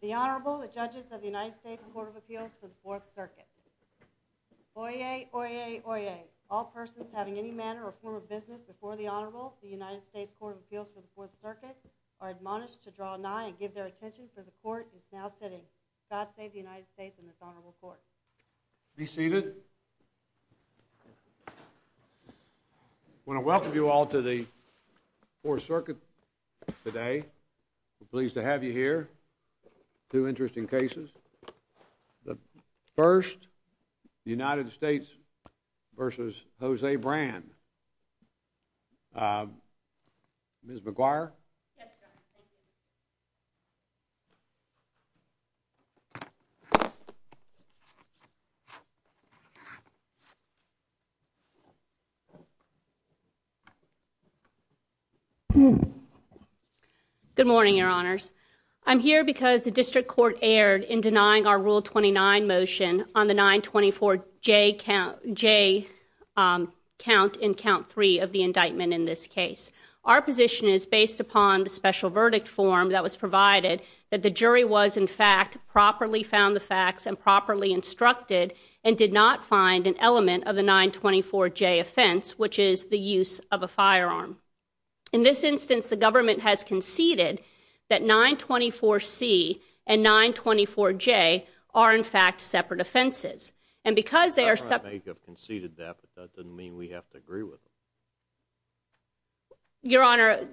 The Honorable, the Judges of the United States Court of Appeals for the 4th Circuit. Oyez! Oyez! Oyez! All persons having any manner or form of business before the Honorable of the United States Court of Appeals for the 4th Circuit are admonished to draw nigh and give their attention, for the Court is now sitting. God save the United States and this Honorable Court. Be seated. I want to welcome you all to the 4th Circuit today. We're pleased to have you here. Two minutes. Good morning, Your Honors. I'm here because the District Court erred in denying our Rule 29 motion on the 924J count in Count 3 of the indictment in this case. Our position is based upon the special verdict form that was provided that the jury was, in fact, properly found the facts and properly instructed and did not find an element of the 924J offense, which is the use of a firearm. In this instance, the government has conceded that 924C and 924J are, in fact, separate offenses. And because they are separate The government may have conceded that, but that doesn't mean we have to agree with them. Your Honor,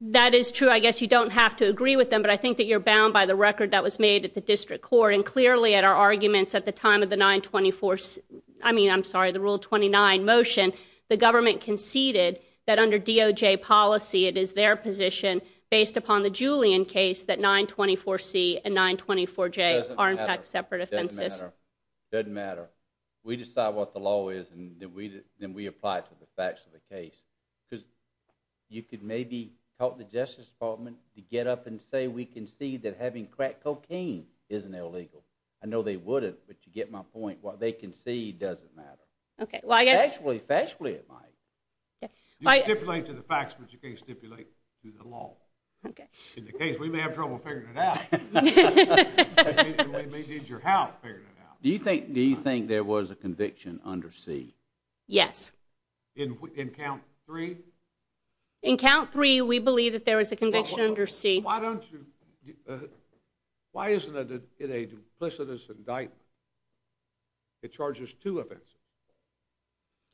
that is true. I guess you don't have to agree with them, but I think that they were bound by the record that was made at the District Court. And clearly, at our arguments at the time of the 924, I mean, I'm sorry, the Rule 29 motion, the government conceded that under DOJ policy, it is their position, based upon the Julian case, that 924C and 924J are, in fact, separate offenses. It doesn't matter. It doesn't matter. We decide what the law is, and then we apply it to the facts of the case. Because you could maybe tell the Justice Department to get up and say we concede that having crack cocaine isn't illegal. I know they wouldn't, but you get my point. What they concede doesn't matter. Okay. Well, I guess Factually, factually, it might. You stipulate to the facts, but you can't stipulate to the law. Okay. In the case, we may have trouble figuring it out. We may need your help figuring it out. Do you think there was a conviction under C? Yes. In Count 3? In Count 3, we believe that there was a conviction under C. Why don't you, why isn't it a duplicitous indictment? It charges two offenses.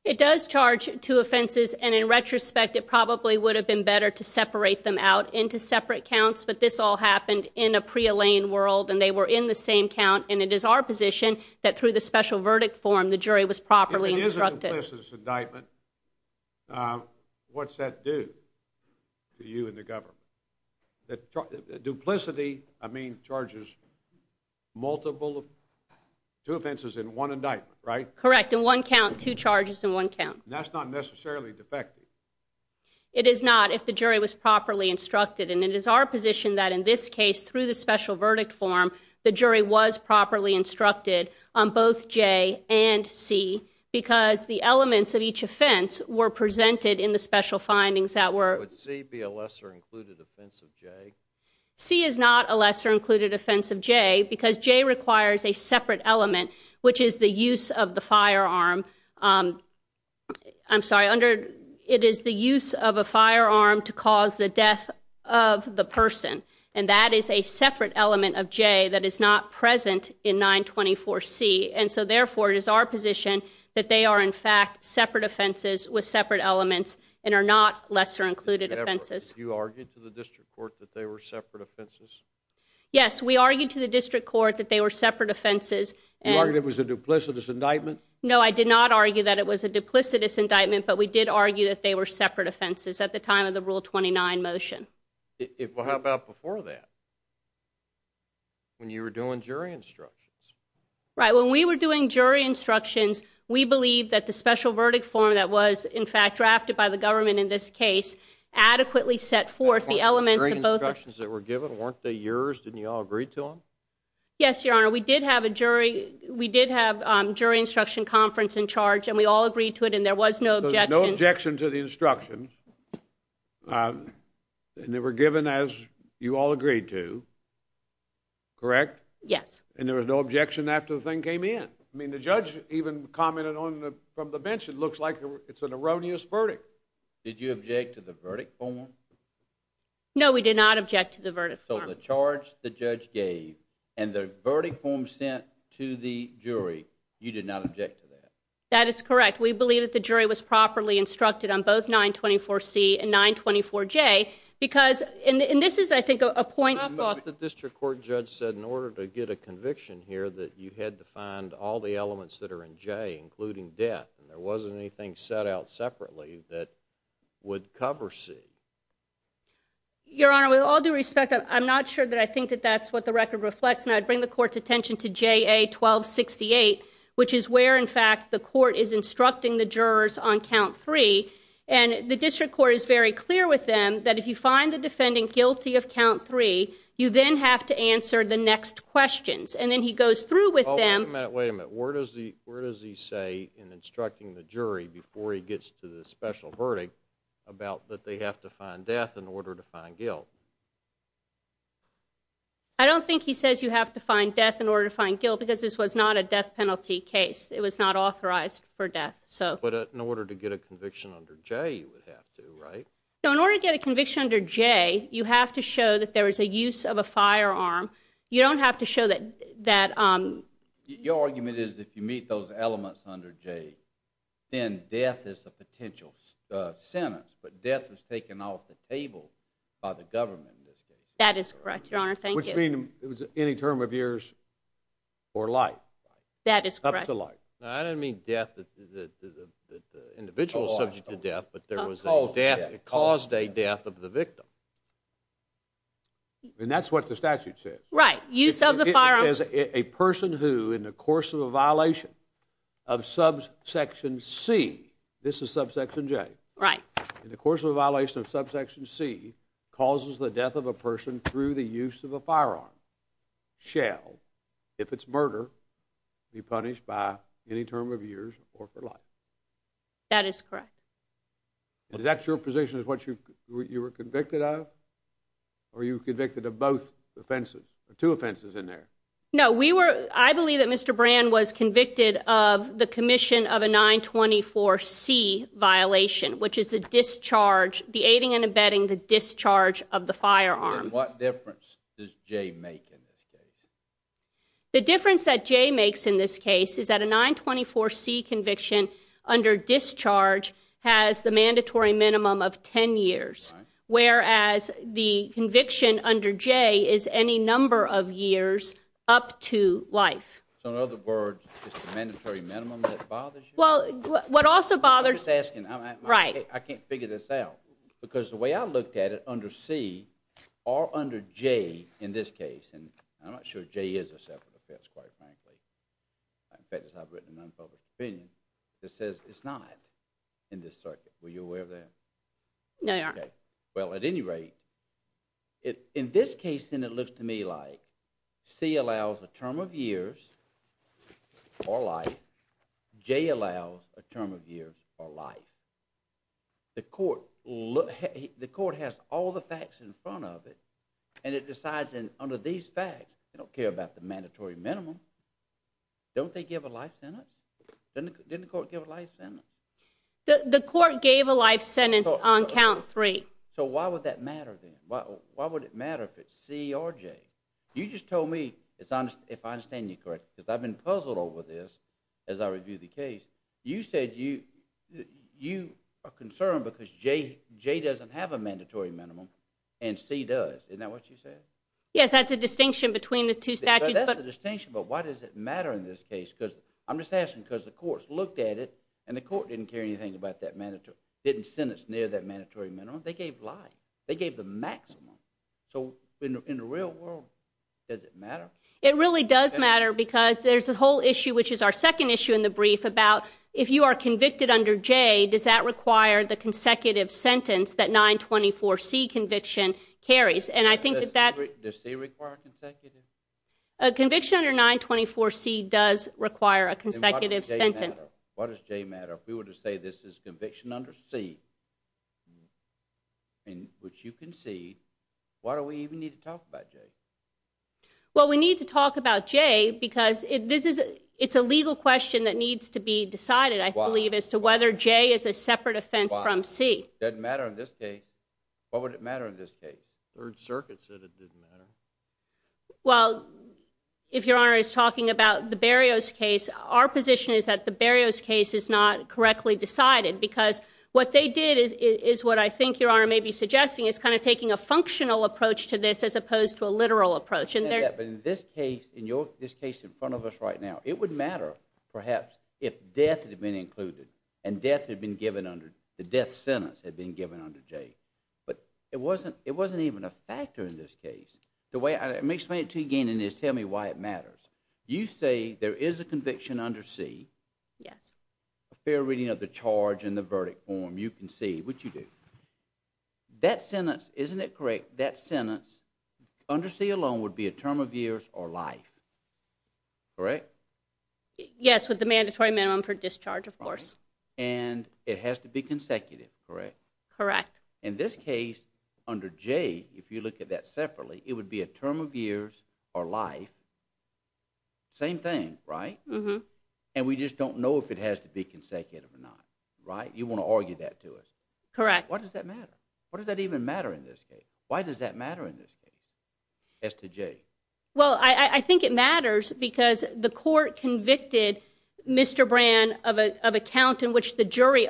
It does charge two offenses, and in retrospect, it probably would have been better to separate them out into separate counts, but this all happened in a pre-Elaine world, and they were in the same count, and it is our position that through the special verdict form, the jury was properly instructed. If there is a duplicitous indictment, what's that do to you and the government? Duplicity, I mean, charges multiple, two offenses in one indictment, right? Correct. In one count, two charges in one count. That's not necessarily defective. It is not if the jury was properly instructed, and it is our position that in this case, through the special verdict form, the jury was properly instructed on both J and C, because the elements of each offense were presented in the special findings that were... Would C be a lesser-included offense of J? C is not a lesser-included offense of J, because J requires a separate element, which is the use of the firearm, I'm sorry, under, it is the use of a firearm to cause the death of the person, and that is a separate element of J that is not present in 924C, and so, therefore, it is our position that they are, in fact, separate offenses with separate elements and are not lesser-included offenses. You argued to the district court that they were separate offenses? Yes, we argued to the district court that they were separate offenses. You argued it was a duplicitous indictment? No, I did not argue that it was a duplicitous indictment, but we did argue that they were separate offenses at the time of the Rule 29 motion. Well, how about before that, when you were doing jury instructions? Right, when we were doing jury instructions, we believed that the special verdict form that was, in fact, drafted by the government in this case adequately set forth the elements of both... The jury instructions that were given, weren't they yours? Didn't you all agree to them? Yes, Your Honor, we did have a jury, we did have jury instruction conference in charge, and we all agreed to it, and there was no objection... And they were given as you all agreed to, correct? Yes. And there was no objection after the thing came in? I mean, the judge even commented on it from the bench, it looks like it's an erroneous verdict. Did you object to the verdict form? No, we did not object to the verdict form. So the charge the judge gave and the verdict form sent to the jury, you did not object to that? That is correct. We believe that the jury was properly instructed on both 924C and 924J, because, and this is I think a point... I thought the district court judge said in order to get a conviction here that you had to find all the elements that are in J, including death, and there wasn't anything set out separately that would cover C. Your Honor, with all due respect, I'm not sure that I think that that's what the record reflects, and I'd bring the court's attention to JA 1268, which is where, in fact, the court is instructing the jurors on count 3, and the district court is very clear with them that if you find the defendant guilty of count 3, you then have to answer the next questions. And then he goes through with them... Oh, wait a minute, wait a minute. Where does he say in instructing the jury before he gets to the special verdict about that they have to find death in order to find guilt? I don't think he says you have to find death in order to find guilt, because this was not a death penalty case. It was not authorized for death, so... But in order to get a conviction under J, you would have to, right? No, in order to get a conviction under J, you have to show that there was a use of a firearm. You don't have to show that... Your argument is if you meet those elements under J, then death is a potential sentence, but death was taken off the table by the government in this case. That is correct, Your Honor. Thank you. Which means it was any term of years or life. That is correct. Any term of years or life. I didn't mean death, the individual subject to death, but there was a death, it caused a death of the victim. And that's what the statute says. Right, use of the firearm... It says a person who, in the course of a violation of subsection C, this is subsection J. Right. In the course of a violation of subsection C, causes the death of a person through the term of years or for life. That is correct. Is that your position, is what you were convicted of? Or you were convicted of both offenses, two offenses in there? No, we were, I believe that Mr. Brand was convicted of the commission of a 924C violation, which is the discharge, the aiding and abetting the discharge of the firearm. What difference does J make in this case? The difference that J makes in this case is that a 924C conviction under discharge has the mandatory minimum of 10 years, whereas the conviction under J is any number of years up to life. So in other words, it's the mandatory minimum that bothers you? Well, what also bothers... I'm just asking, I can't figure this out. Because the way I looked at it, under C, or under J in this case, and I'm not sure J is a separate offense, quite frankly. In fact, I've written an unpublished opinion that says it's not in this circuit. Were you aware of that? No, Your Honor. Well, at any rate, in this case then it looks to me like C allows a term of years or life, J allows a term of years or life. The court has all the facts in front of it, and it decides under these facts, they don't care about the mandatory minimum. Don't they give a life sentence? Didn't the court give a life sentence? The court gave a life sentence on count three. So why would that matter then? Why would it matter if it's C or J? You just told me, if I understand you correctly, because I've been puzzled over this as I review the case, you said you are concerned because J doesn't have a mandatory minimum, and C does. Isn't that what you said? Yes, that's a distinction between the two statutes. That's a distinction, but why does it matter in this case? I'm just asking because the courts looked at it, and the court didn't care anything about that mandatory, didn't sentence near that mandatory minimum. They gave life. They gave the maximum. So in the real world, does it matter? It really does matter because there's a whole issue, which is our second issue in the brief, about if you are convicted under J, does that require the consecutive sentence that 924C conviction carries? Does C require consecutive? A conviction under 924C does require a consecutive sentence. What does J matter? If we were to say this is conviction under C, which you concede, why do we even need to talk about J? Well, we need to talk about J because it's a legal question that needs to be decided, I believe, as to whether J is a separate offense from C. Why? It doesn't matter in this case. Why would it matter in this case? The Third Circuit said it didn't matter. Well, if Your Honor is talking about the Berrios case, our position is that the Berrios case is not correctly decided because what they did is what I think Your Honor may be suggesting is kind of taking a functional approach to this as opposed to a literal approach. But in this case, in front of us right now, it would matter, perhaps, if death had been included and death had been given under, the death sentence had been given under J. But it wasn't even a factor in this case. Let me explain it to you again and just tell me why it matters. You say there is a conviction under C, a fair reading of the charge and the verdict form you concede, which you do. That sentence, isn't it correct, that sentence under C alone would be a term of years or life, correct? Yes, with the mandatory minimum for discharge, of course. And it has to be consecutive, correct? Correct. In this case, under J, if you look at that separately, it would be a term of years or life, same thing, right? And we just don't know if it has to be consecutive or not, right? You want to argue that to us. Correct. Why does that matter? What does that even matter in this case? Why does that matter in this case as to J? Well, I think it matters because the court convicted Mr. Brand of a count in which the We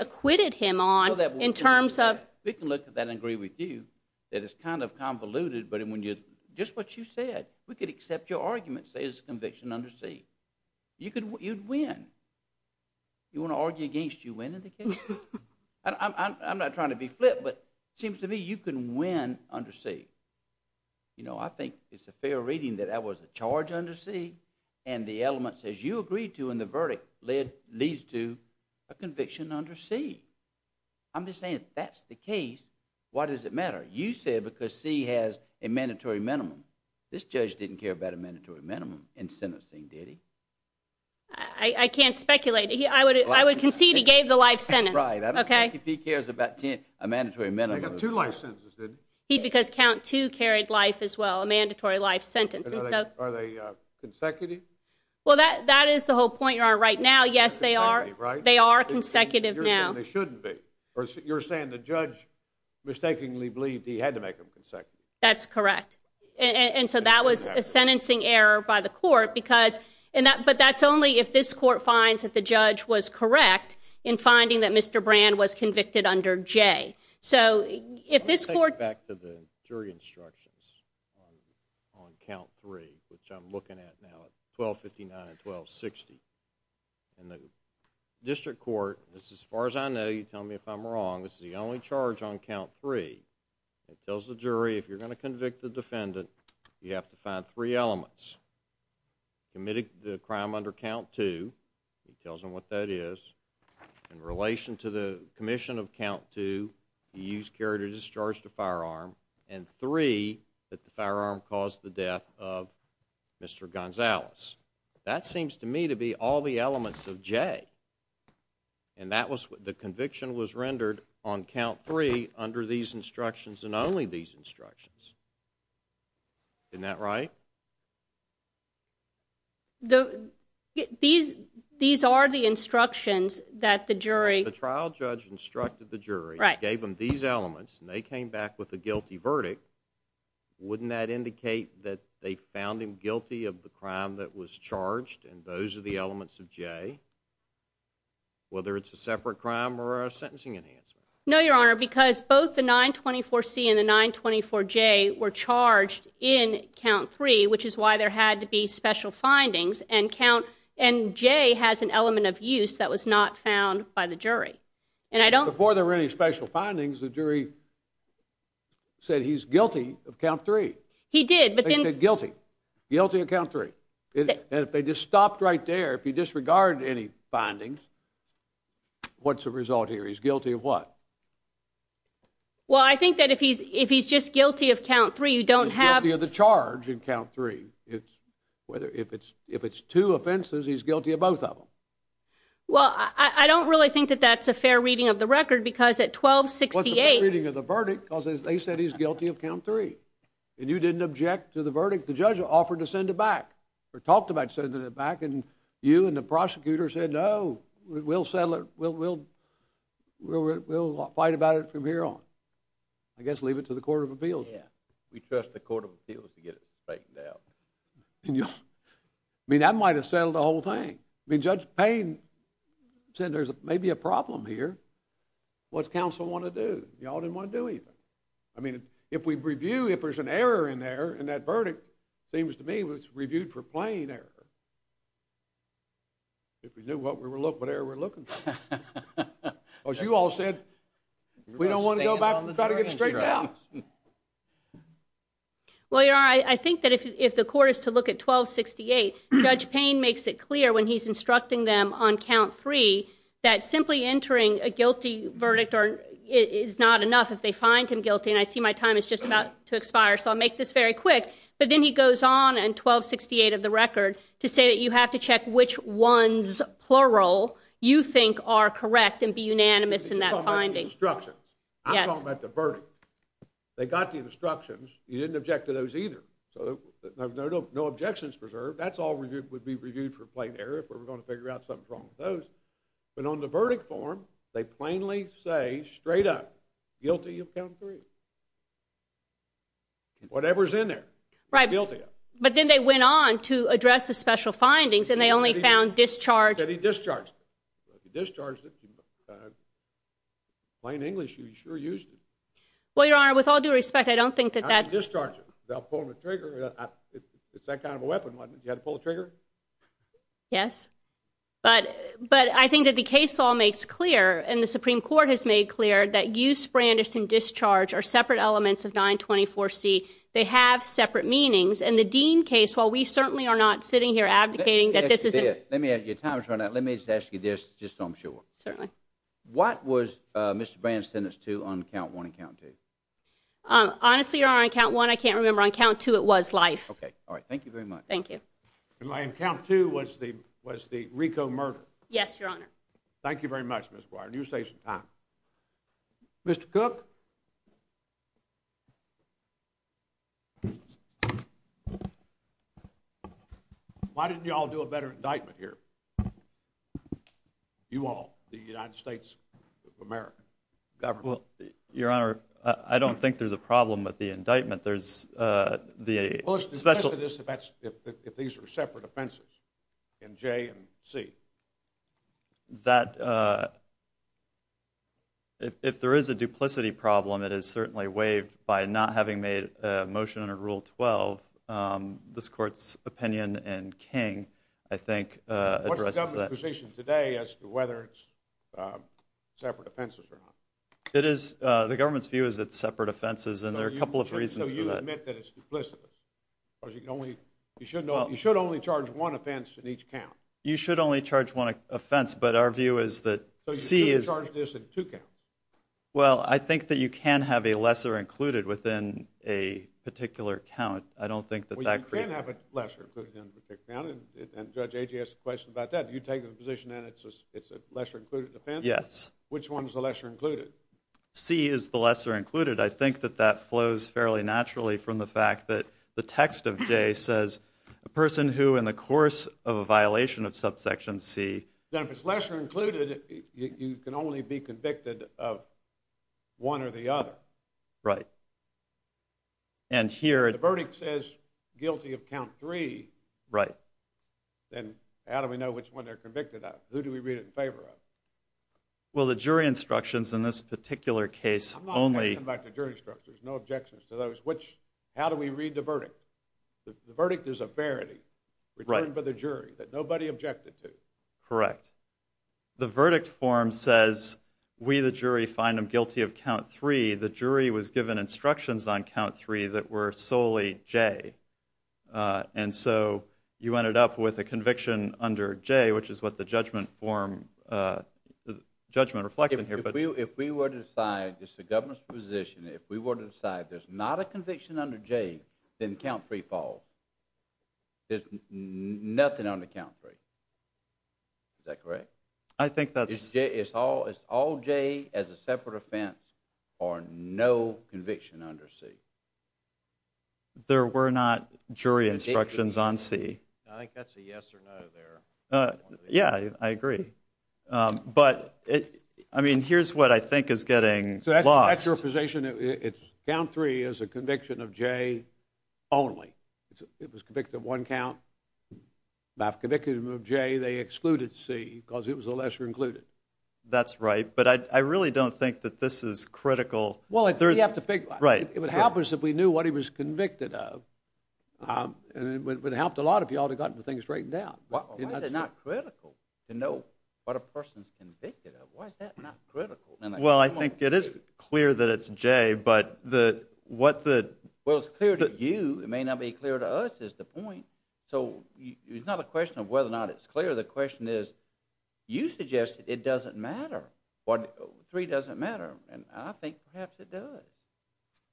can look at that and agree with you that it's kind of convoluted, but just what you said, we could accept your argument, say it's a conviction under C. You'd win. You want to argue against you win in the case? I'm not trying to be flip, but it seems to me you can win under C. You know, I think it's a fair reading that that was a charge under C and the elements as you agreed to in the verdict leads to a conviction under C. I'm just saying if that's the case, why does it matter? You said because C has a mandatory minimum. This judge didn't care about a mandatory minimum in sentencing, did he? I can't speculate. I would concede he gave the life sentence. Right. I don't think if he cares about a mandatory minimum. He got two life sentences, did he? Because count two carried life as well, a mandatory life sentence. Are they consecutive? Well, that is the whole point you're on right now. Yes, they are. They are consecutive now. And they shouldn't be. You're saying the judge mistakenly believed he had to make them consecutive. That's correct. And so that was a sentencing error by the court. But that's only if this court finds that the judge was correct in finding that Mr. Brand was convicted under J. I want to take it back to the jury instructions on count three, which I'm looking at now at 1259 and 1260. And the district court, as far as I know, you tell me if I'm wrong, this is the only charge on count three. It tells the jury if you're going to convict the defendant, you have to find three elements. Committed the crime under count two. It tells them what that is. In relation to the commission of count two, he used carry to discharge the firearm. And three, that the firearm caused the death of Mr. Gonzalez. That seems to me to be all the elements of J. And that was the conviction was rendered on count three under these instructions and only these instructions. Isn't that right? These are the instructions that the jury. The trial judge instructed the jury, gave them these elements, and they came back with a guilty verdict. Wouldn't that indicate that they found him guilty of the crime that was charged? And those are the elements of J. Whether it's a separate crime or a sentencing enhancement. No, Your Honor, because both the 924 C and the 924 J were charged in count three, which is why there had to be special findings and count. And J has an element of use that was not found by the jury. And I don't. Before there were any special findings, the jury. Said he's guilty of count three. He did, but then guilty. Guilty account three. And if they just stopped right there, if you disregard any findings. What's the result here? He's guilty of what? Well, I think that if he's, if he's just guilty of count three, you don't have the charge in count three. It's whether if it's, if it's two offenses, he's guilty of both of them. Well, I don't really think that that's a fair reading of the record because at 1268. Reading of the verdict causes, they said he's guilty of count three. And you didn't object to the verdict. The judge offered to send it back or talked about sending it back. And you and the prosecutor said, no, we'll settle it. We'll, we'll, we'll, we'll, we'll fight about it from here on. I guess, leave it to the court of appeals. We trust the court of appeals to get it right now. I mean, I might've settled the whole thing. I mean, Judge Payne said there's maybe a problem here. What's counsel want to do? Y'all didn't want to do anything. I mean, if we review, if there's an error in there, and that verdict seems to me was reviewed for plain error. If we knew what we were looking, what error we're looking for. As you all said, we don't want to go back and try to get it straightened out. Well, Your Honor, I think that if the court is to look at 1268, Judge Payne makes it clear when he's instructing them on count three that simply entering a guilty verdict is not enough if they find him guilty. And I see my time is just about to expire, so I'll make this very quick. But then he goes on in 1268 of the record to say that you have to check which ones, plural, you think are correct and be unanimous in that finding. You're talking about the instructions. Yes. I'm talking about the verdict. They got the instructions. You didn't object to those either. So no objections preserved. That's all would be reviewed for plain error if we're going to figure out something's wrong with those. But on the verdict form, they plainly say straight up, guilty of count three. Whatever's in there, guilty of it. Right. But then they went on to address the special findings, and they only found discharge. Said he discharged it. He discharged it. In plain English, he sure used it. Well, Your Honor, with all due respect, I don't think that that's He discharged it without pulling the trigger. It's that kind of a weapon, wasn't it? You had to pull the trigger? Yes. But I think that the case law makes clear, and the Supreme Court has made clear, that use, brandish, and discharge are separate elements of 924C. They have separate meanings. In the Dean case, while we certainly are not sitting here abdicating that this is a ---- Let me ask you this, just so I'm sure. Certainly. What was Mr. Brand's sentence to on count one and count two? Honestly, Your Honor, on count one, I can't remember. On count two, it was life. Okay. All right. Thank you very much. Thank you. And on count two, was the RICO murder? Yes, Your Honor. Thank you very much, Ms. Boyer. You're saving time. Mr. Cook? Why didn't you all do a better indictment here? You all, the United States of America. Your Honor, I don't think there's a problem with the indictment. There's the special ---- Well, let's discuss this if these are separate offenses in J and C. That, if there is a duplicity problem, it is certainly waived by not having made a motion under Rule 12. This Court's opinion in King, I think, addresses that. It is. The government's view is it's separate offenses, and there are a couple of reasons for that. You should only charge one offense in each count. You should only charge one offense, but our view is that C is ---- So you should have charged this in two counts. Well, I think that you can have a lesser included within a particular count. I don't think that that creates ---- Well, you can have a lesser included in a particular count, and Judge Agee asked a question about that. Do you take the position that it's a lesser included offense? Yes. Which one's the lesser included? C is the lesser included. I think that that flows fairly naturally from the fact that the text of J says, a person who, in the course of a violation of subsection C ---- Then if it's lesser included, you can only be convicted of one or the other. Right. And here ---- The verdict says guilty of count three. Right. Then how do we know which one they're convicted of? Who do we read it in favor of? Well, the jury instructions in this particular case only ---- I'm not going to come back to jury instructions. There's no objections to those. How do we read the verdict? The verdict is a verity returned by the jury that nobody objected to. Correct. The verdict form says we, the jury, find them guilty of count three. The jury was given instructions on count three that were solely J. And so you ended up with a conviction under J, which is what the judgment form, judgment reflects in here. If we were to decide, this is the government's position, if we were to decide there's not a conviction under J, then count three falls. There's nothing under count three. Is that correct? I think that's ---- It's all J as a separate offense or no conviction under C. There were not jury instructions on C. I think that's a yes or no there. Yeah, I agree. But, I mean, here's what I think is getting lost. So that's your position. Count three is a conviction of J only. It was convicted of one count. Not convicted of J. They excluded C because it was a lesser included. That's right. But I really don't think that this is critical. Well, you have to figure ---- It would have helped us if we knew what he was convicted of. It would have helped a lot if you all had gotten things straightened out. Why is it not critical to know what a person is convicted of? Why is that not critical? Well, I think it is clear that it's J, but what the ---- Well, it's clear to you. It may not be clear to us is the point. So it's not a question of whether or not it's clear. The question is you suggested it doesn't matter. Three doesn't matter. And I think perhaps it does.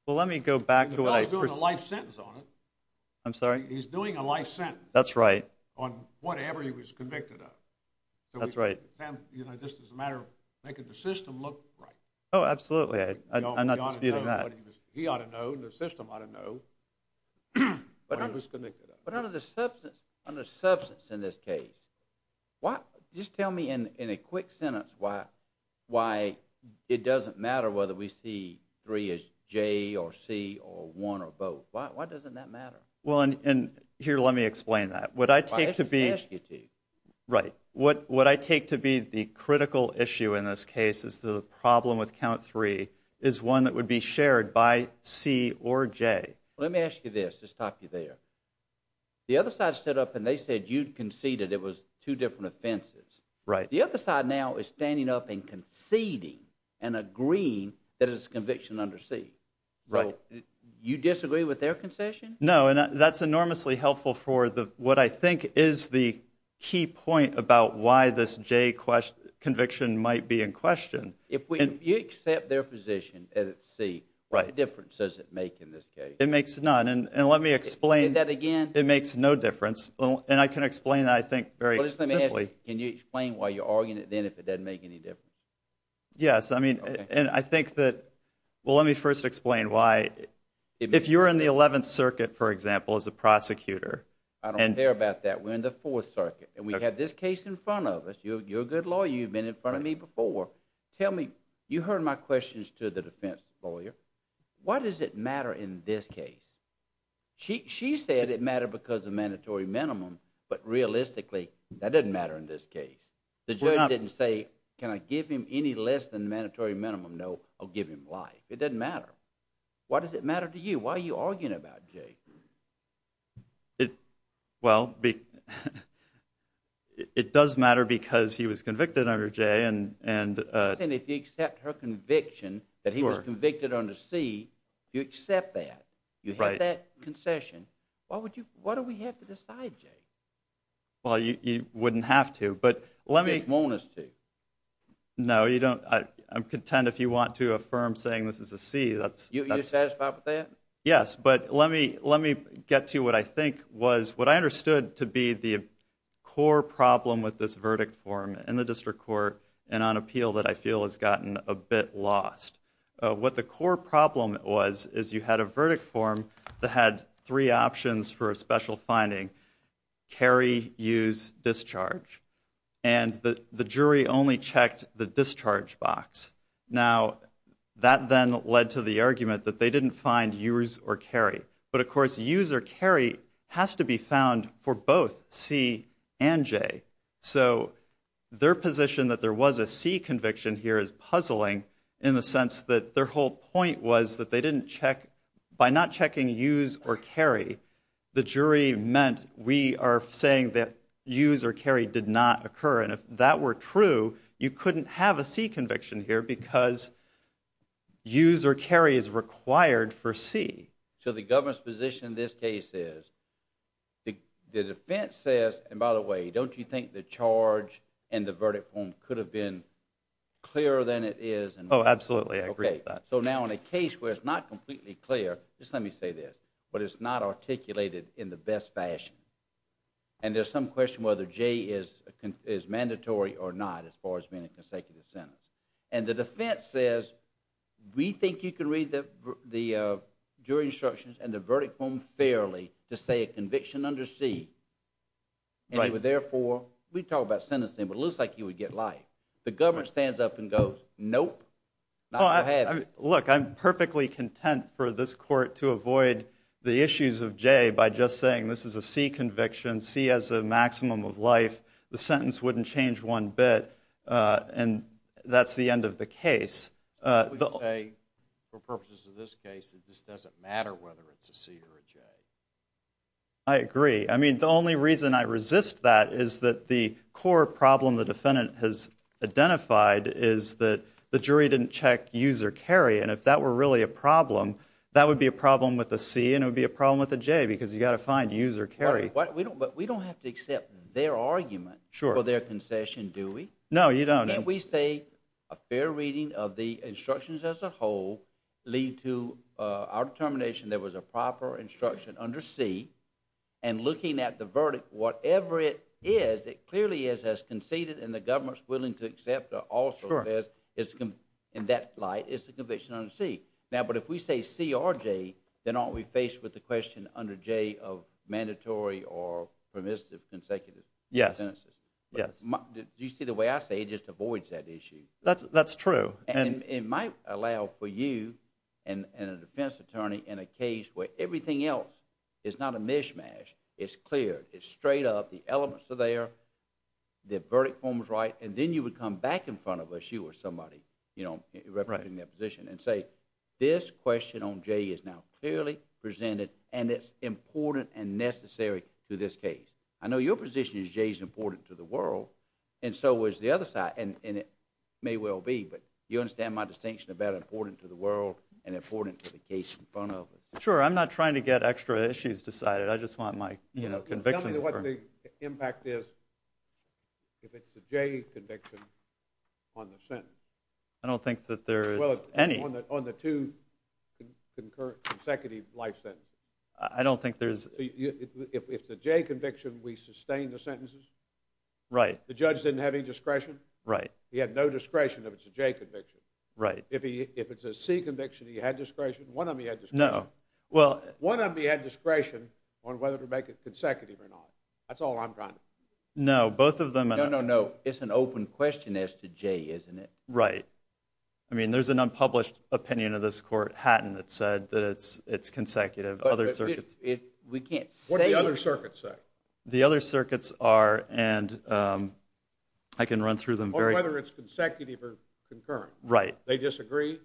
Well, let me go back to what I ---- He's doing a life sentence on it. I'm sorry? He's doing a life sentence. That's right. On whatever he was convicted of. That's right. Just as a matter of making the system look right. Oh, absolutely. I'm not disputing that. He ought to know. The system ought to know what he was convicted of. But under the substance in this case, just tell me in a quick sentence why it doesn't matter whether we see three as J or C or one or both. Why doesn't that matter? Well, and here, let me explain that. What I take to be ---- Well, I have to ask you to. Right. What I take to be the critical issue in this case is the problem with count three is one that would be shared by C or J. Let me ask you this to stop you there. The other side stood up and they said you'd conceded it was two different offenses. Right. The other side now is standing up and conceding and agreeing that it's conviction under C. Right. You disagree with their concession? No, and that's enormously helpful for what I think is the key point about why this J conviction might be in question. If you accept their position as C, what difference does it make in this case? It makes none. And let me explain. Say that again. It makes no difference. And I can explain that, I think, very simply. Can you explain why you're arguing it then if it doesn't make any difference? Yes. And I think that, well, let me first explain why. If you're in the 11th Circuit, for example, as a prosecutor. I don't care about that. We're in the 4th Circuit. And we have this case in front of us. You're a good lawyer. You've been in front of me before. Tell me, you heard my questions to the defense lawyer. Why does it matter in this case? She said it mattered because of mandatory minimum. But realistically, that doesn't matter in this case. The judge didn't say, can I give him any less than mandatory minimum? No, I'll give him life. It doesn't matter. Why does it matter to you? Why are you arguing about J? Well, it does matter because he was convicted under J. And if you accept her conviction that he was convicted under C, you accept that. Right. You have that concession. Why do we have to decide J? Well, you wouldn't have to. But let me. You just want us to. No, you don't. I'm content if you want to affirm saying this is a C. You're satisfied with that? Yes. But let me get to what I think was what I understood to be the core problem with this verdict form in the district court and on appeal that I feel has gotten a bit lost. What the core problem was is you had a verdict form that had three options for a special finding, carry, use, discharge. And the jury only checked the discharge box. Now, that then led to the argument that they didn't find use or carry. But of course, use or carry has to be found for both C and J. So their position that there was a C conviction here is puzzling in the sense that their whole point was that they didn't check. By not checking use or carry, the jury meant we are saying that use or carry did not occur. And if that were true, you couldn't have a C conviction here because use or carry is required for C. So the government's position in this case is the defense says, and by the way, don't you think the charge and the verdict form could have been clearer than it is? Oh, absolutely. I agree with that. So now in a case where it's not completely clear, just let me say this. But it's not articulated in the best fashion. And there's some question whether J is mandatory or not as far as being a consecutive sentence. And the defense says, we think you can read the jury instructions and the verdict form fairly to say a conviction under C. And therefore, we talk about sentencing, but it looks like you would get life. The government stands up and goes, nope. Look, I'm perfectly content for this court to avoid the issues of J by just saying this is a C conviction. C has a maximum of life. The sentence wouldn't change one bit. And that's the end of the case. We say, for purposes of this case, that this doesn't matter whether it's a C or a J. I agree. I mean, the only reason I resist that is that the core problem the defendant has identified is that the jury didn't check use or carry. And if that were really a problem, that would be a problem with a C. And it would be a problem with a J, because you've got to find use or carry. But we don't have to accept their argument for their concession, do we? No, you don't. Can't we say a fair reading of the instructions as a whole lead to our determination there was a proper instruction under C, and looking at the verdict, whatever it is, it clearly is as conceded, and the government's willing to accept or also says, in that light, it's a conviction under C. Now, but if we say C or J, then aren't we faced with the question under J of mandatory or permissive consecutive sentences? Yes. Yes. Do you see the way I say it just avoids that issue? That's true. And it might allow for you and a defense attorney in a case where everything else is not a mishmash. It's clear. It's straight up. The elements are there. The verdict form is right. And then you would come back in front of us, you or somebody, representing their position, and say, this question on J is now clearly presented, and it's important and necessary to this case. I know your position is J is important to the world, and so is the other side. And it may well be, but you understand my distinction about important to the world and important to the case Sure, I'm not trying to get extra issues decided. I just want my convictions heard. Tell me what the impact is if it's a J conviction on the sentence. I don't think that there is any. Well, on the two consecutive life sentences. I don't think there's If it's a J conviction, we sustain the sentences. Right. The judge didn't have any discretion. Right. He had no discretion if it's a J conviction. Right. If it's a C conviction, he had discretion. One of them he had discretion. No. One of them he had discretion on whether to make it consecutive or not. That's all I'm trying to do. No, both of them No, no, no. It's an open question as to J, isn't it? Right. I mean, there's an unpublished opinion of this court, Hatton, that said that it's consecutive. Other circuits We can't say What do the other circuits say? The other circuits are, and I can run through them very Or whether it's consecutive or concurrent. Right. They disagree?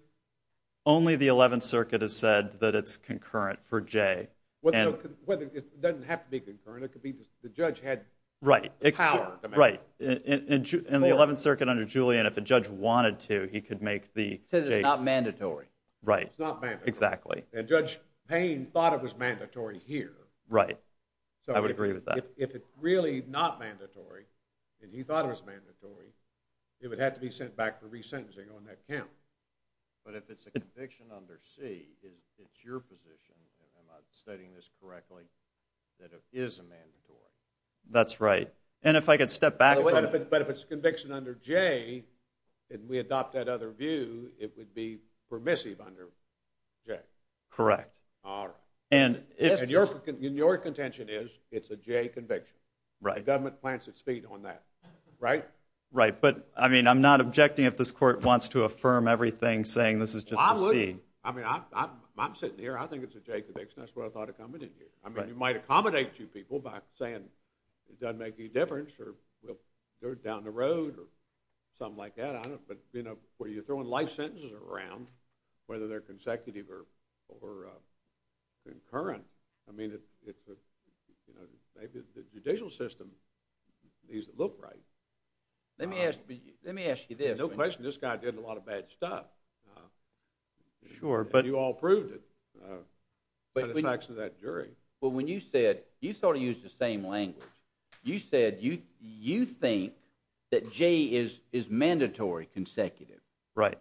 Only the 11th Circuit has said that it's concurrent for J. It doesn't have to be concurrent. It could be the judge had power to make it. Right. In the 11th Circuit under Julian, if a judge wanted to, he could make the J Since it's not mandatory. Right. It's not mandatory. Exactly. And Judge Payne thought it was mandatory here. Right. I would agree with that. If it's really not mandatory, and he thought it was mandatory, it would have to be sent back for resentencing on that count. But if it's a conviction under C, it's your position, and I'm stating this correctly, that it is a mandatory. That's right. And if I could step back But if it's a conviction under J, and we adopt that other view, it would be permissive under J. Correct. All right. And your contention is it's a J conviction. Right. The government plants its feet on that. Right. Right. But, I mean, I'm not objecting if this court wants to affirm everything saying this is just a C. I'm sitting here. I think it's a J conviction. That's what I thought of coming in here. I mean, you might accommodate two people by saying, it doesn't make any difference, or we'll do it down the road, or something like that. But, you know, where you're throwing life sentences around, whether they're consecutive or concurrent, I mean, the judicial system needs to look right. Let me ask you this. No question, this guy did a lot of bad stuff. Sure. And you all proved it by the facts of that jury. Well, when you said, you sort of used the same language. You said you think that J is mandatory, consecutive. Right.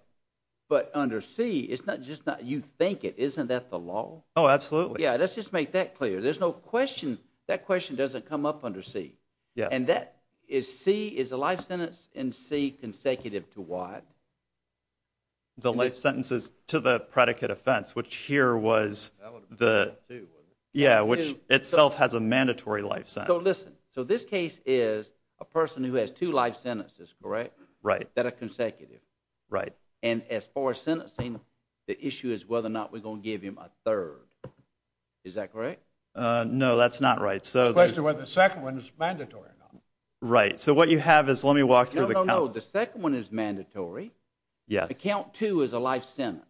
But under C, it's not just that you think it. Isn't that the law? Oh, absolutely. Yeah, let's just make that clear. There's no question, that question doesn't come up under C. Yeah. And that is C, is a life sentence in C consecutive to what? The life sentences to the predicate offense, which here was the, yeah, which itself has a mandatory life sentence. So listen, so this case is a person who has two life sentences, correct? Right. That are consecutive. Right. And as far as sentencing, the issue is whether or not we're going to give him a third. Is that correct? No, that's not right. The question is whether the second one is mandatory or not. Right. So what you have is, let me walk through the counts. No, no, no, the second one is mandatory. Yes. The count two is a life sentence.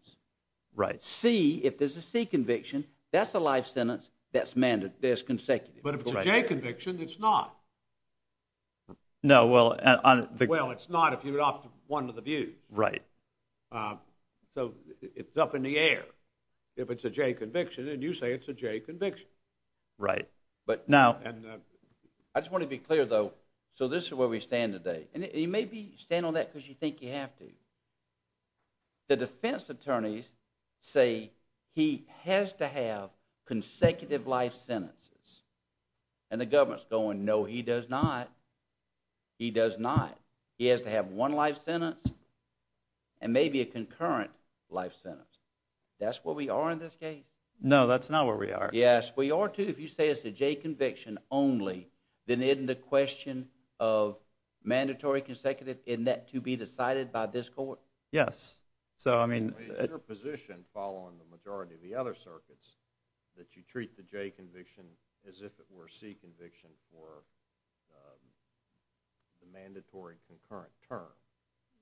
Right. C, if there's a C conviction, that's a life sentence that's consecutive. But if it's a J conviction, it's not. No, well. Well, it's not if you're off to one of the views. Right. So it's up in the air. If it's a J conviction, and you say it's a J conviction. Right. But now. I just want to be clear, though. So this is where we stand today. And you may be standing on that because you think you have to. The defense attorneys say he has to have consecutive life sentences. And the government's going, no, he does not. He does not. He has to have one life sentence and maybe a concurrent life sentence. That's where we are in this case. No, that's not where we are. Yes, we are, too. If you say it's a J conviction only, then isn't the question of mandatory consecutive, isn't that to be decided by this court? Yes. So, I mean. In your position, following the majority of the other circuits, that you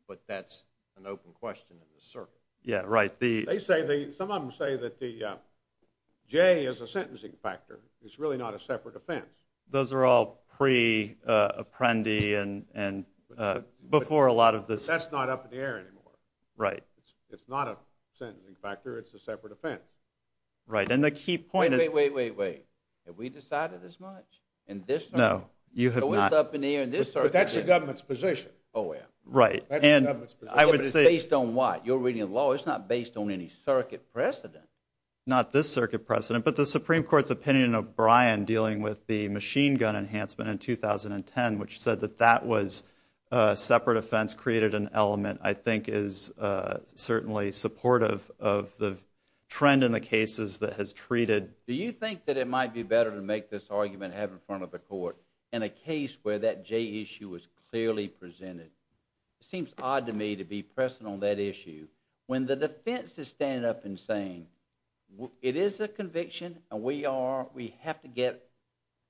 But that's an open question in the circuit. Yeah, right. Some of them say that the J is a sentencing factor. It's really not a separate offense. Those are all pre-Apprendi and before a lot of this. That's not up in the air anymore. Right. It's not a sentencing factor. It's a separate offense. Right. And the key point is. Wait, wait, wait, wait. Have we decided as much? In this circuit? No. You have not. It's not up in the air in this circuit. But that's the government's position. Oh, yeah. Right. That's the government's position. But it's based on what? You're reading a law. It's not based on any circuit precedent. Not this circuit precedent. But the Supreme Court's opinion of Bryan dealing with the machine gun enhancement in 2010, which said that that was a separate offense, created an element I think is certainly supportive of the trend in the cases that has treated. Do you think that it might be better to make this argument and have it in clearly presented? It seems odd to me to be pressing on that issue when the defense is standing up and saying it is a conviction and we are, we have to get,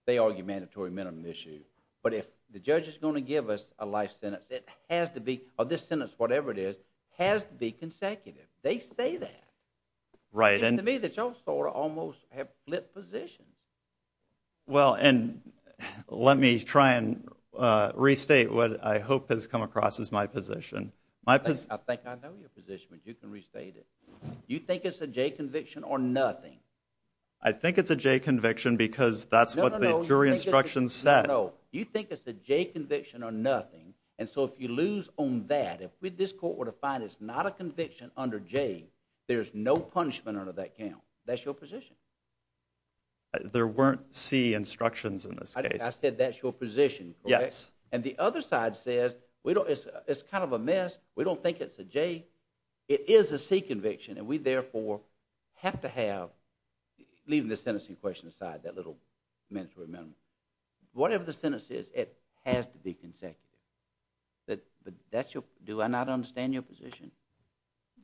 they argue mandatory minimum issue. But if the judge is going to give us a life sentence, it has to be, or this sentence, whatever it is, has to be consecutive. They say that. Right. And to me that's all sort of almost have flipped positions. Well, and let me try and restate what I hope has come across as my position. I think I know your position, but you can restate it. You think it's a J conviction or nothing? I think it's a J conviction because that's what the jury instructions said. No, no, no. You think it's a J conviction or nothing. And so if you lose on that, if this court were to find it's not a conviction under J, there's no punishment under that count. That's your position. There weren't C instructions in this case. I said that's your position. Yes. And the other side says it's kind of a mess. We don't think it's a J. It is a C conviction and we therefore have to have, leaving the sentencing question aside, that little mandatory minimum. Whatever the sentence is, it has to be consecutive.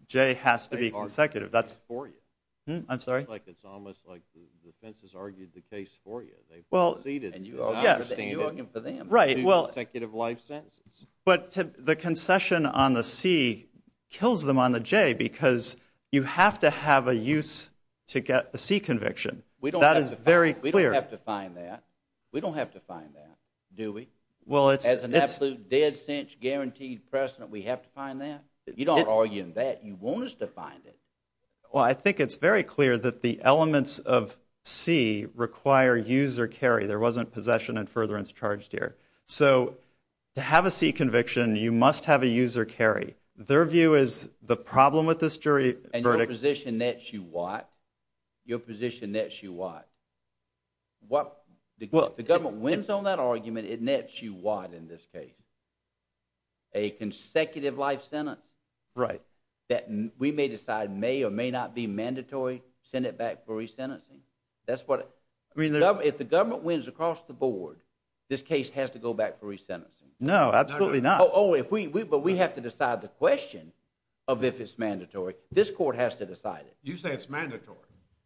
J has to be consecutive. That's for you. I'm sorry? It's almost like the defense has argued the case for you. They've proceeded. And you are arguing for them. Right. Well, consecutive life sentences. But the concession on the C kills them on the J because you have to have a use to get a C conviction. That is very clear. We don't have to find that. We don't have to find that, do we? As an absolute dead cinch guaranteed precedent, we have to find that? You don't argue in that. You want us to find it. Well, I think it's very clear that the elements of C require use or carry. There wasn't possession and furtherance charged here. So to have a C conviction, you must have a use or carry. Their view is the problem with this verdict. And your position nets you what? Your position nets you what? If the government wins on that argument, it nets you what in this case? A consecutive life sentence? Right. That we may decide may or may not be mandatory. Send it back for resentencing. If the government wins across the board, this case has to go back for resentencing. No, absolutely not. But we have to decide the question of if it's mandatory. This court has to decide it. You say it's mandatory.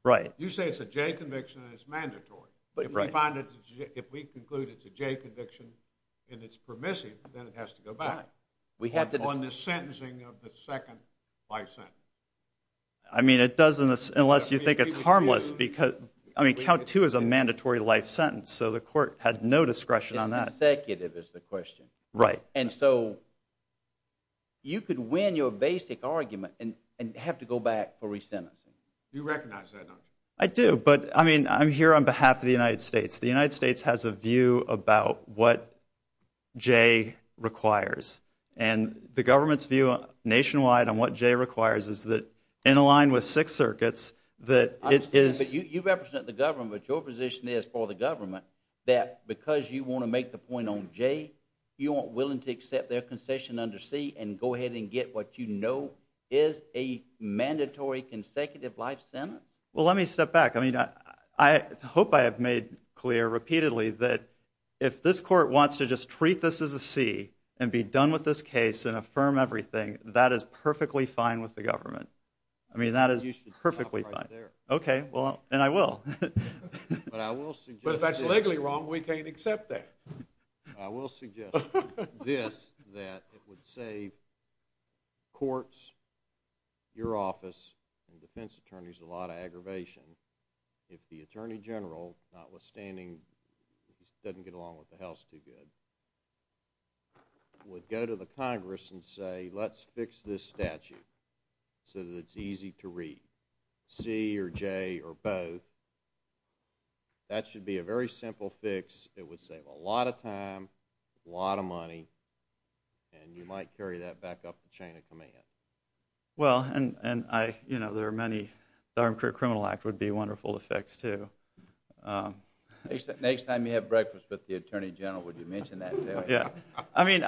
Right. You say it's a J conviction and it's mandatory. If we conclude it's a J conviction and it's permissive, then it has to go back. On the sentencing of the second life sentence? I mean, it doesn't unless you think it's harmless. I mean, count two is a mandatory life sentence. So the court had no discretion on that. It's consecutive is the question. Right. And so you could win your basic argument and have to go back for resentencing. You recognize that, don't you? I do. But I mean, I'm here on behalf of the United States. The United States has a view about what J requires. And the government's view nationwide on what J requires is that, in a line with Sixth Circuit's, that it is— You represent the government. Your position is for the government that because you want to make the point on J, you aren't willing to accept their concession under C and go ahead and get what you know is a mandatory consecutive life sentence? Well, let me step back. I mean, I hope I have made clear repeatedly that if this court wants to just treat this as a C and be done with this case and affirm everything, that is perfectly fine with the government. I mean, that is perfectly fine. You should stop right there. Okay. Well, and I will. But I will suggest this— But if that's legally wrong, we can't accept that. I will suggest this, that it would save courts, your office, and defense attorneys a lot of aggravation if the attorney general, notwithstanding, doesn't get along with the House too good, would go to the Congress and say, let's fix this statute so that it's easy to read, C or J or both. That should be a very simple fix. It would save a lot of time, a lot of money, and you might carry that back up the chain of command. Well, and there are many— the Armed Career Criminal Act would be wonderful to fix, too. Next time you have breakfast with the attorney general, would you mention that, too? Yeah. I mean,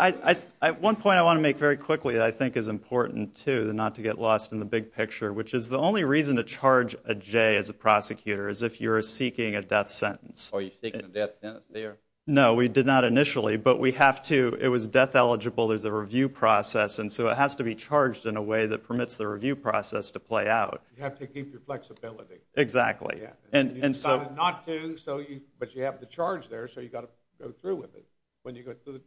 one point I want to make very quickly that I think is important, too, and not to get lost in the big picture, which is the only reason to charge a J as a prosecutor is if you're seeking a death sentence. Are you seeking a death sentence there? No, we did not initially. But we have to—it was death-eligible. There's a review process, and so it has to be charged in a way that permits the review process to play out. You have to keep your flexibility. Exactly. You decided not to, but you have the charge there, so you've got to go through with it when you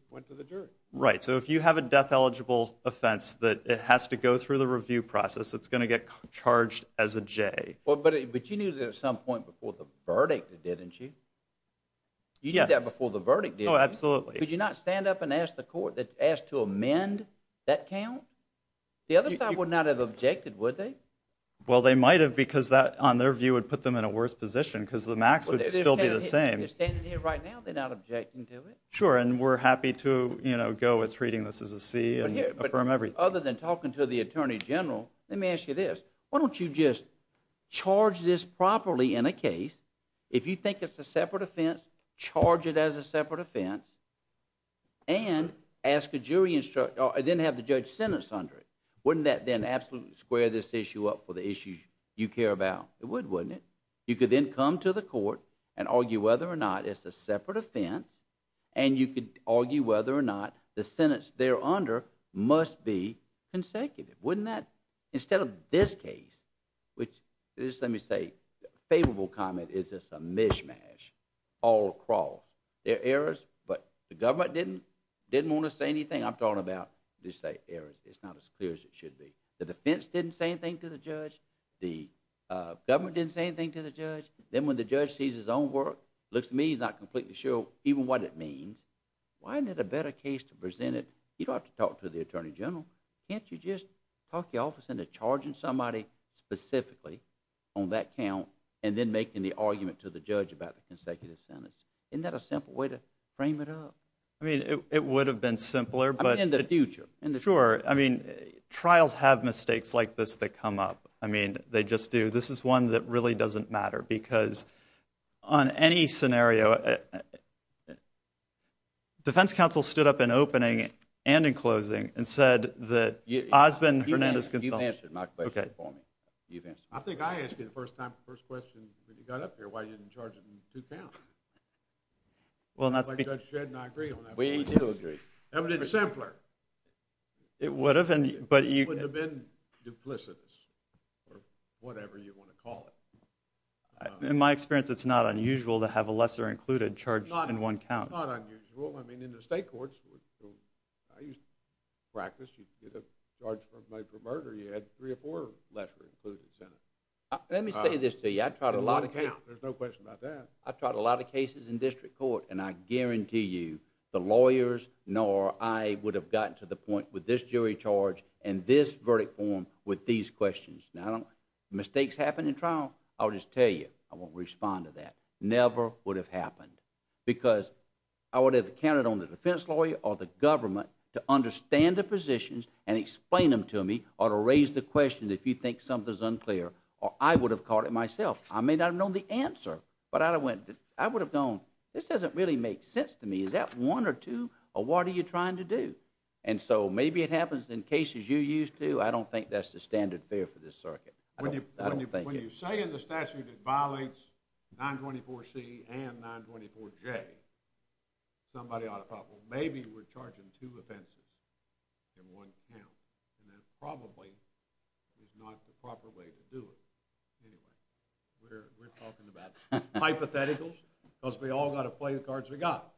went to the jury. Right. So if you have a death-eligible offense that has to go through the review process, it's going to get charged as a J. But you knew that at some point before the verdict, didn't you? Yes. You knew that before the verdict, didn't you? Oh, absolutely. Could you not stand up and ask the court that asked to amend that count? The other side would not have objected, would they? Well, they might have because that, on their view, would put them in a worse position because the max would still be the same. They're standing here right now. They're not objecting to it. Sure, and we're happy to, you know, go with treating this as a C and affirm everything. But other than talking to the attorney general, let me ask you this. Why don't you just charge this properly in a case? If you think it's a separate offense, charge it as a separate offense and ask a jury instructor or then have the judge sentence under it, wouldn't that then absolutely square this issue up for the issues you care about? It would, wouldn't it? You could then come to the court and argue whether or not it's a separate offense and you could argue whether or not the sentence they're under must be consecutive. Wouldn't that, instead of this case, which, just let me say, favorable comment, is this a mishmash all across? There are errors, but the government didn't want to say anything. I'm talking about, they say, errors. It's not as clear as it should be. The defense didn't say anything to the judge. The government didn't say anything to the judge. Then when the judge sees his own work, looks to me he's not completely sure even what it means. Why isn't it a better case to present it? You don't have to talk to the attorney general. Can't you just talk your office into charging somebody specifically on that count and then making the argument to the judge about the consecutive sentence? Isn't that a simple way to frame it up? I mean, it would have been simpler, but... I mean, in the future. Sure. I mean, trials have mistakes like this that come up. I mean, they just do. This is one that really doesn't matter because on any scenario, defense counsel stood up in opening and in closing and said that Osmond Hernandez-Gonzalez... You've answered my question for me. You've answered my question. I think I asked you the first time, the first question when you got up here, why you didn't charge it in two counts. Judge Shedd and I agree on that. We do agree. It would have been simpler. It would have been, but you... It would have been duplicitous or whatever you want to call it. In my experience, it's not unusual to have a lesser included charged in one count. It's not unusual. I mean, in the state courts, I used to practice, you'd charge somebody for murder, you had three or four lesser included sentenced. Let me say this to you. I tried a lot of cases... There's no question about that. I tried a lot of cases in district court, and I guarantee you, the lawyers nor I would have gotten to the point with this jury charge and this verdict form with these questions. Now, mistakes happen in trial. I'll just tell you. I won't respond to that. Never would have happened because I would have counted on the defense lawyer or the government to understand the positions and explain them to me or to raise the question if you think something's unclear, or I would have caught it myself. I may not have known the answer, but I would have gone, this doesn't really make sense to me. Is that one or two, or what are you trying to do? And so maybe it happens in cases you're used to. I don't think that's the standard fare for this circuit. I don't think it is. When you say in the statute it violates 924C and 924J, somebody ought to probably... Maybe we're charging two offenses in one count, and that probably is not the proper way to do it. Anyway, we're talking about hypotheticals because we all got to play the cards we got,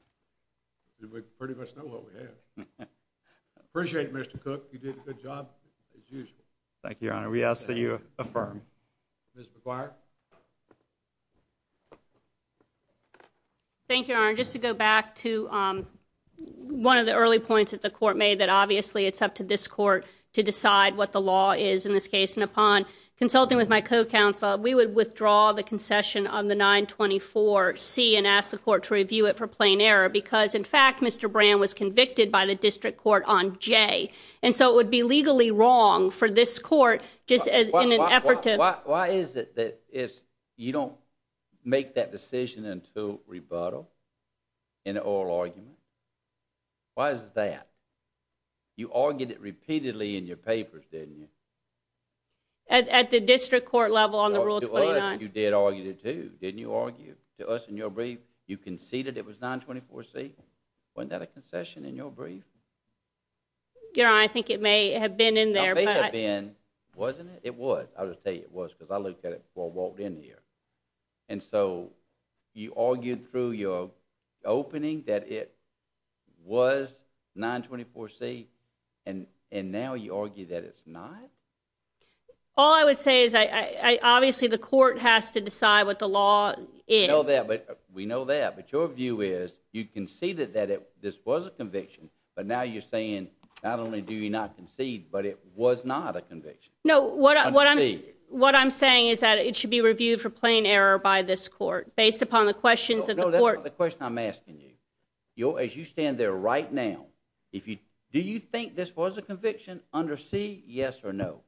and we pretty much know what we have. Appreciate it, Mr. Cook. You did a good job as usual. Thank you, Your Honor. We ask that you affirm. Ms. McGuire? Thank you, Your Honor. Just to go back to one of the early points that the court made that obviously it's up to this court to decide what the law is in this case. And upon consulting with my co-counsel, we would withdraw the concession on the 924C and ask the court to review it for plain error because, in fact, Mr. Brand was convicted by the district court on J. And so it would be legally wrong for this court just in an effort to... Why is it that you don't make that decision until rebuttal in an oral argument? Why is it that? You argued it repeatedly in your papers, didn't you? At the district court level on the Rule 29. You did argue it, too. Didn't you argue it to us in your brief? You conceded it was 924C. Wasn't that a concession in your brief? Your Honor, I think it may have been in there. It may have been. Wasn't it? It was. I'll just tell you it was because I looked at it before I walked in here. And so you argued through your opening that it was 924C and now you argue that it's not? All I would say is obviously the court has to decide what the law is. We know that, but your view is you conceded that this was a conviction but now you're saying not only do you not concede but it was not a conviction. No, what I'm saying is that it should be reviewed for plain error by this court based upon the questions of the court. As you stand there right now, do you think this was a conviction under C, yes or no?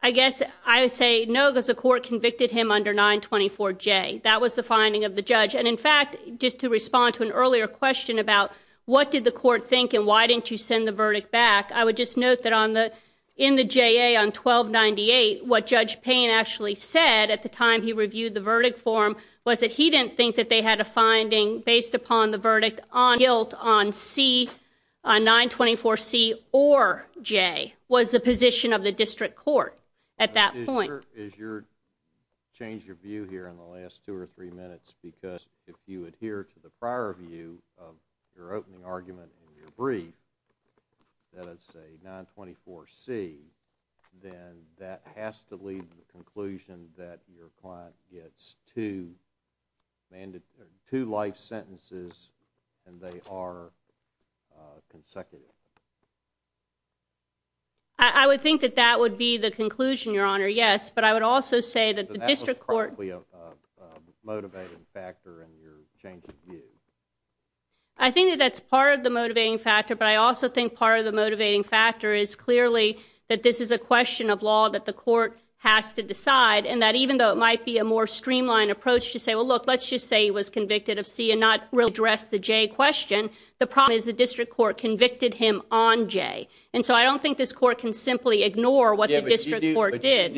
I guess I would say no because the court convicted him under 924J. That was the finding of the judge. And in fact, just to respond to an earlier question about what did the court think and why didn't you send the verdict back, I would just note that in the JA on 1298 what Judge Payne actually said at the time he reviewed the verdict for him was that he didn't think that they had a finding based upon the verdict on guilt on C, on 924C or J was the position of the district court at that point. Is your, change your view here in the last two or three minutes because if you adhere to the prior view of your opening argument in your brief that it's a 924C then that has to lead to the conclusion that your client gets two life sentences and they are consecutive. I would think that that would be the conclusion, Your Honor, yes. But I would also say that the district court... But that was partly a motivating factor in your change of view. I think that that's part of the motivating factor but I also think part of the motivating factor is clearly that this is a question of law that the court has to decide and that even though it might be a more streamlined approach to say, well, look, let's just say he was convicted of C and not really address the J question, the problem is the district court convicted him on J. And so I don't think this court can simply ignore what the district court did.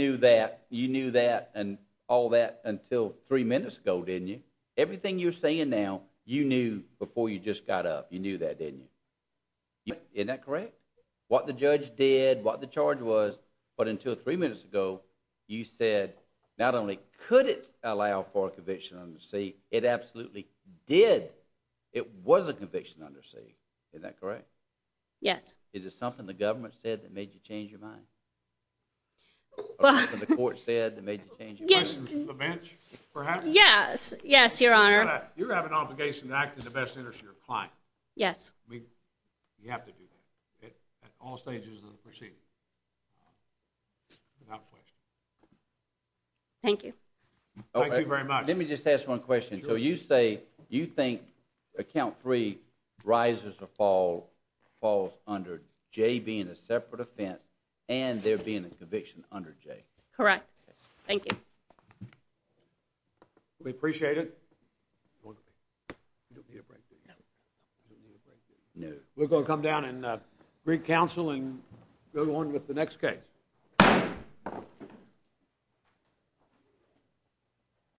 You knew that and all that until three minutes ago, didn't you? Everything you're saying now, you knew before you just got up. You knew that, didn't you? Isn't that correct? What the judge did, what the charge was but until three minutes ago, you said not only could it allow for a conviction under C, it absolutely did. It was a conviction under C. Isn't that correct? Yes. Is it something the government said that made you change your mind? Or something the court said that made you change your mind? Questions from the bench, perhaps? Yes, yes, Your Honor. You have an obligation to act in the best interest of your client. Yes. You have to do that at all stages of the proceedings. Without question. Thank you. Thank you very much. Let me just ask one question. So you say, you think account three rises or falls under J being a separate offense and there being a conviction under J? Correct. Thank you. We appreciate it. You don't need a break, do you? No. You don't need a break, do you? No. We're going to come down and bring counsel and go on with the next case.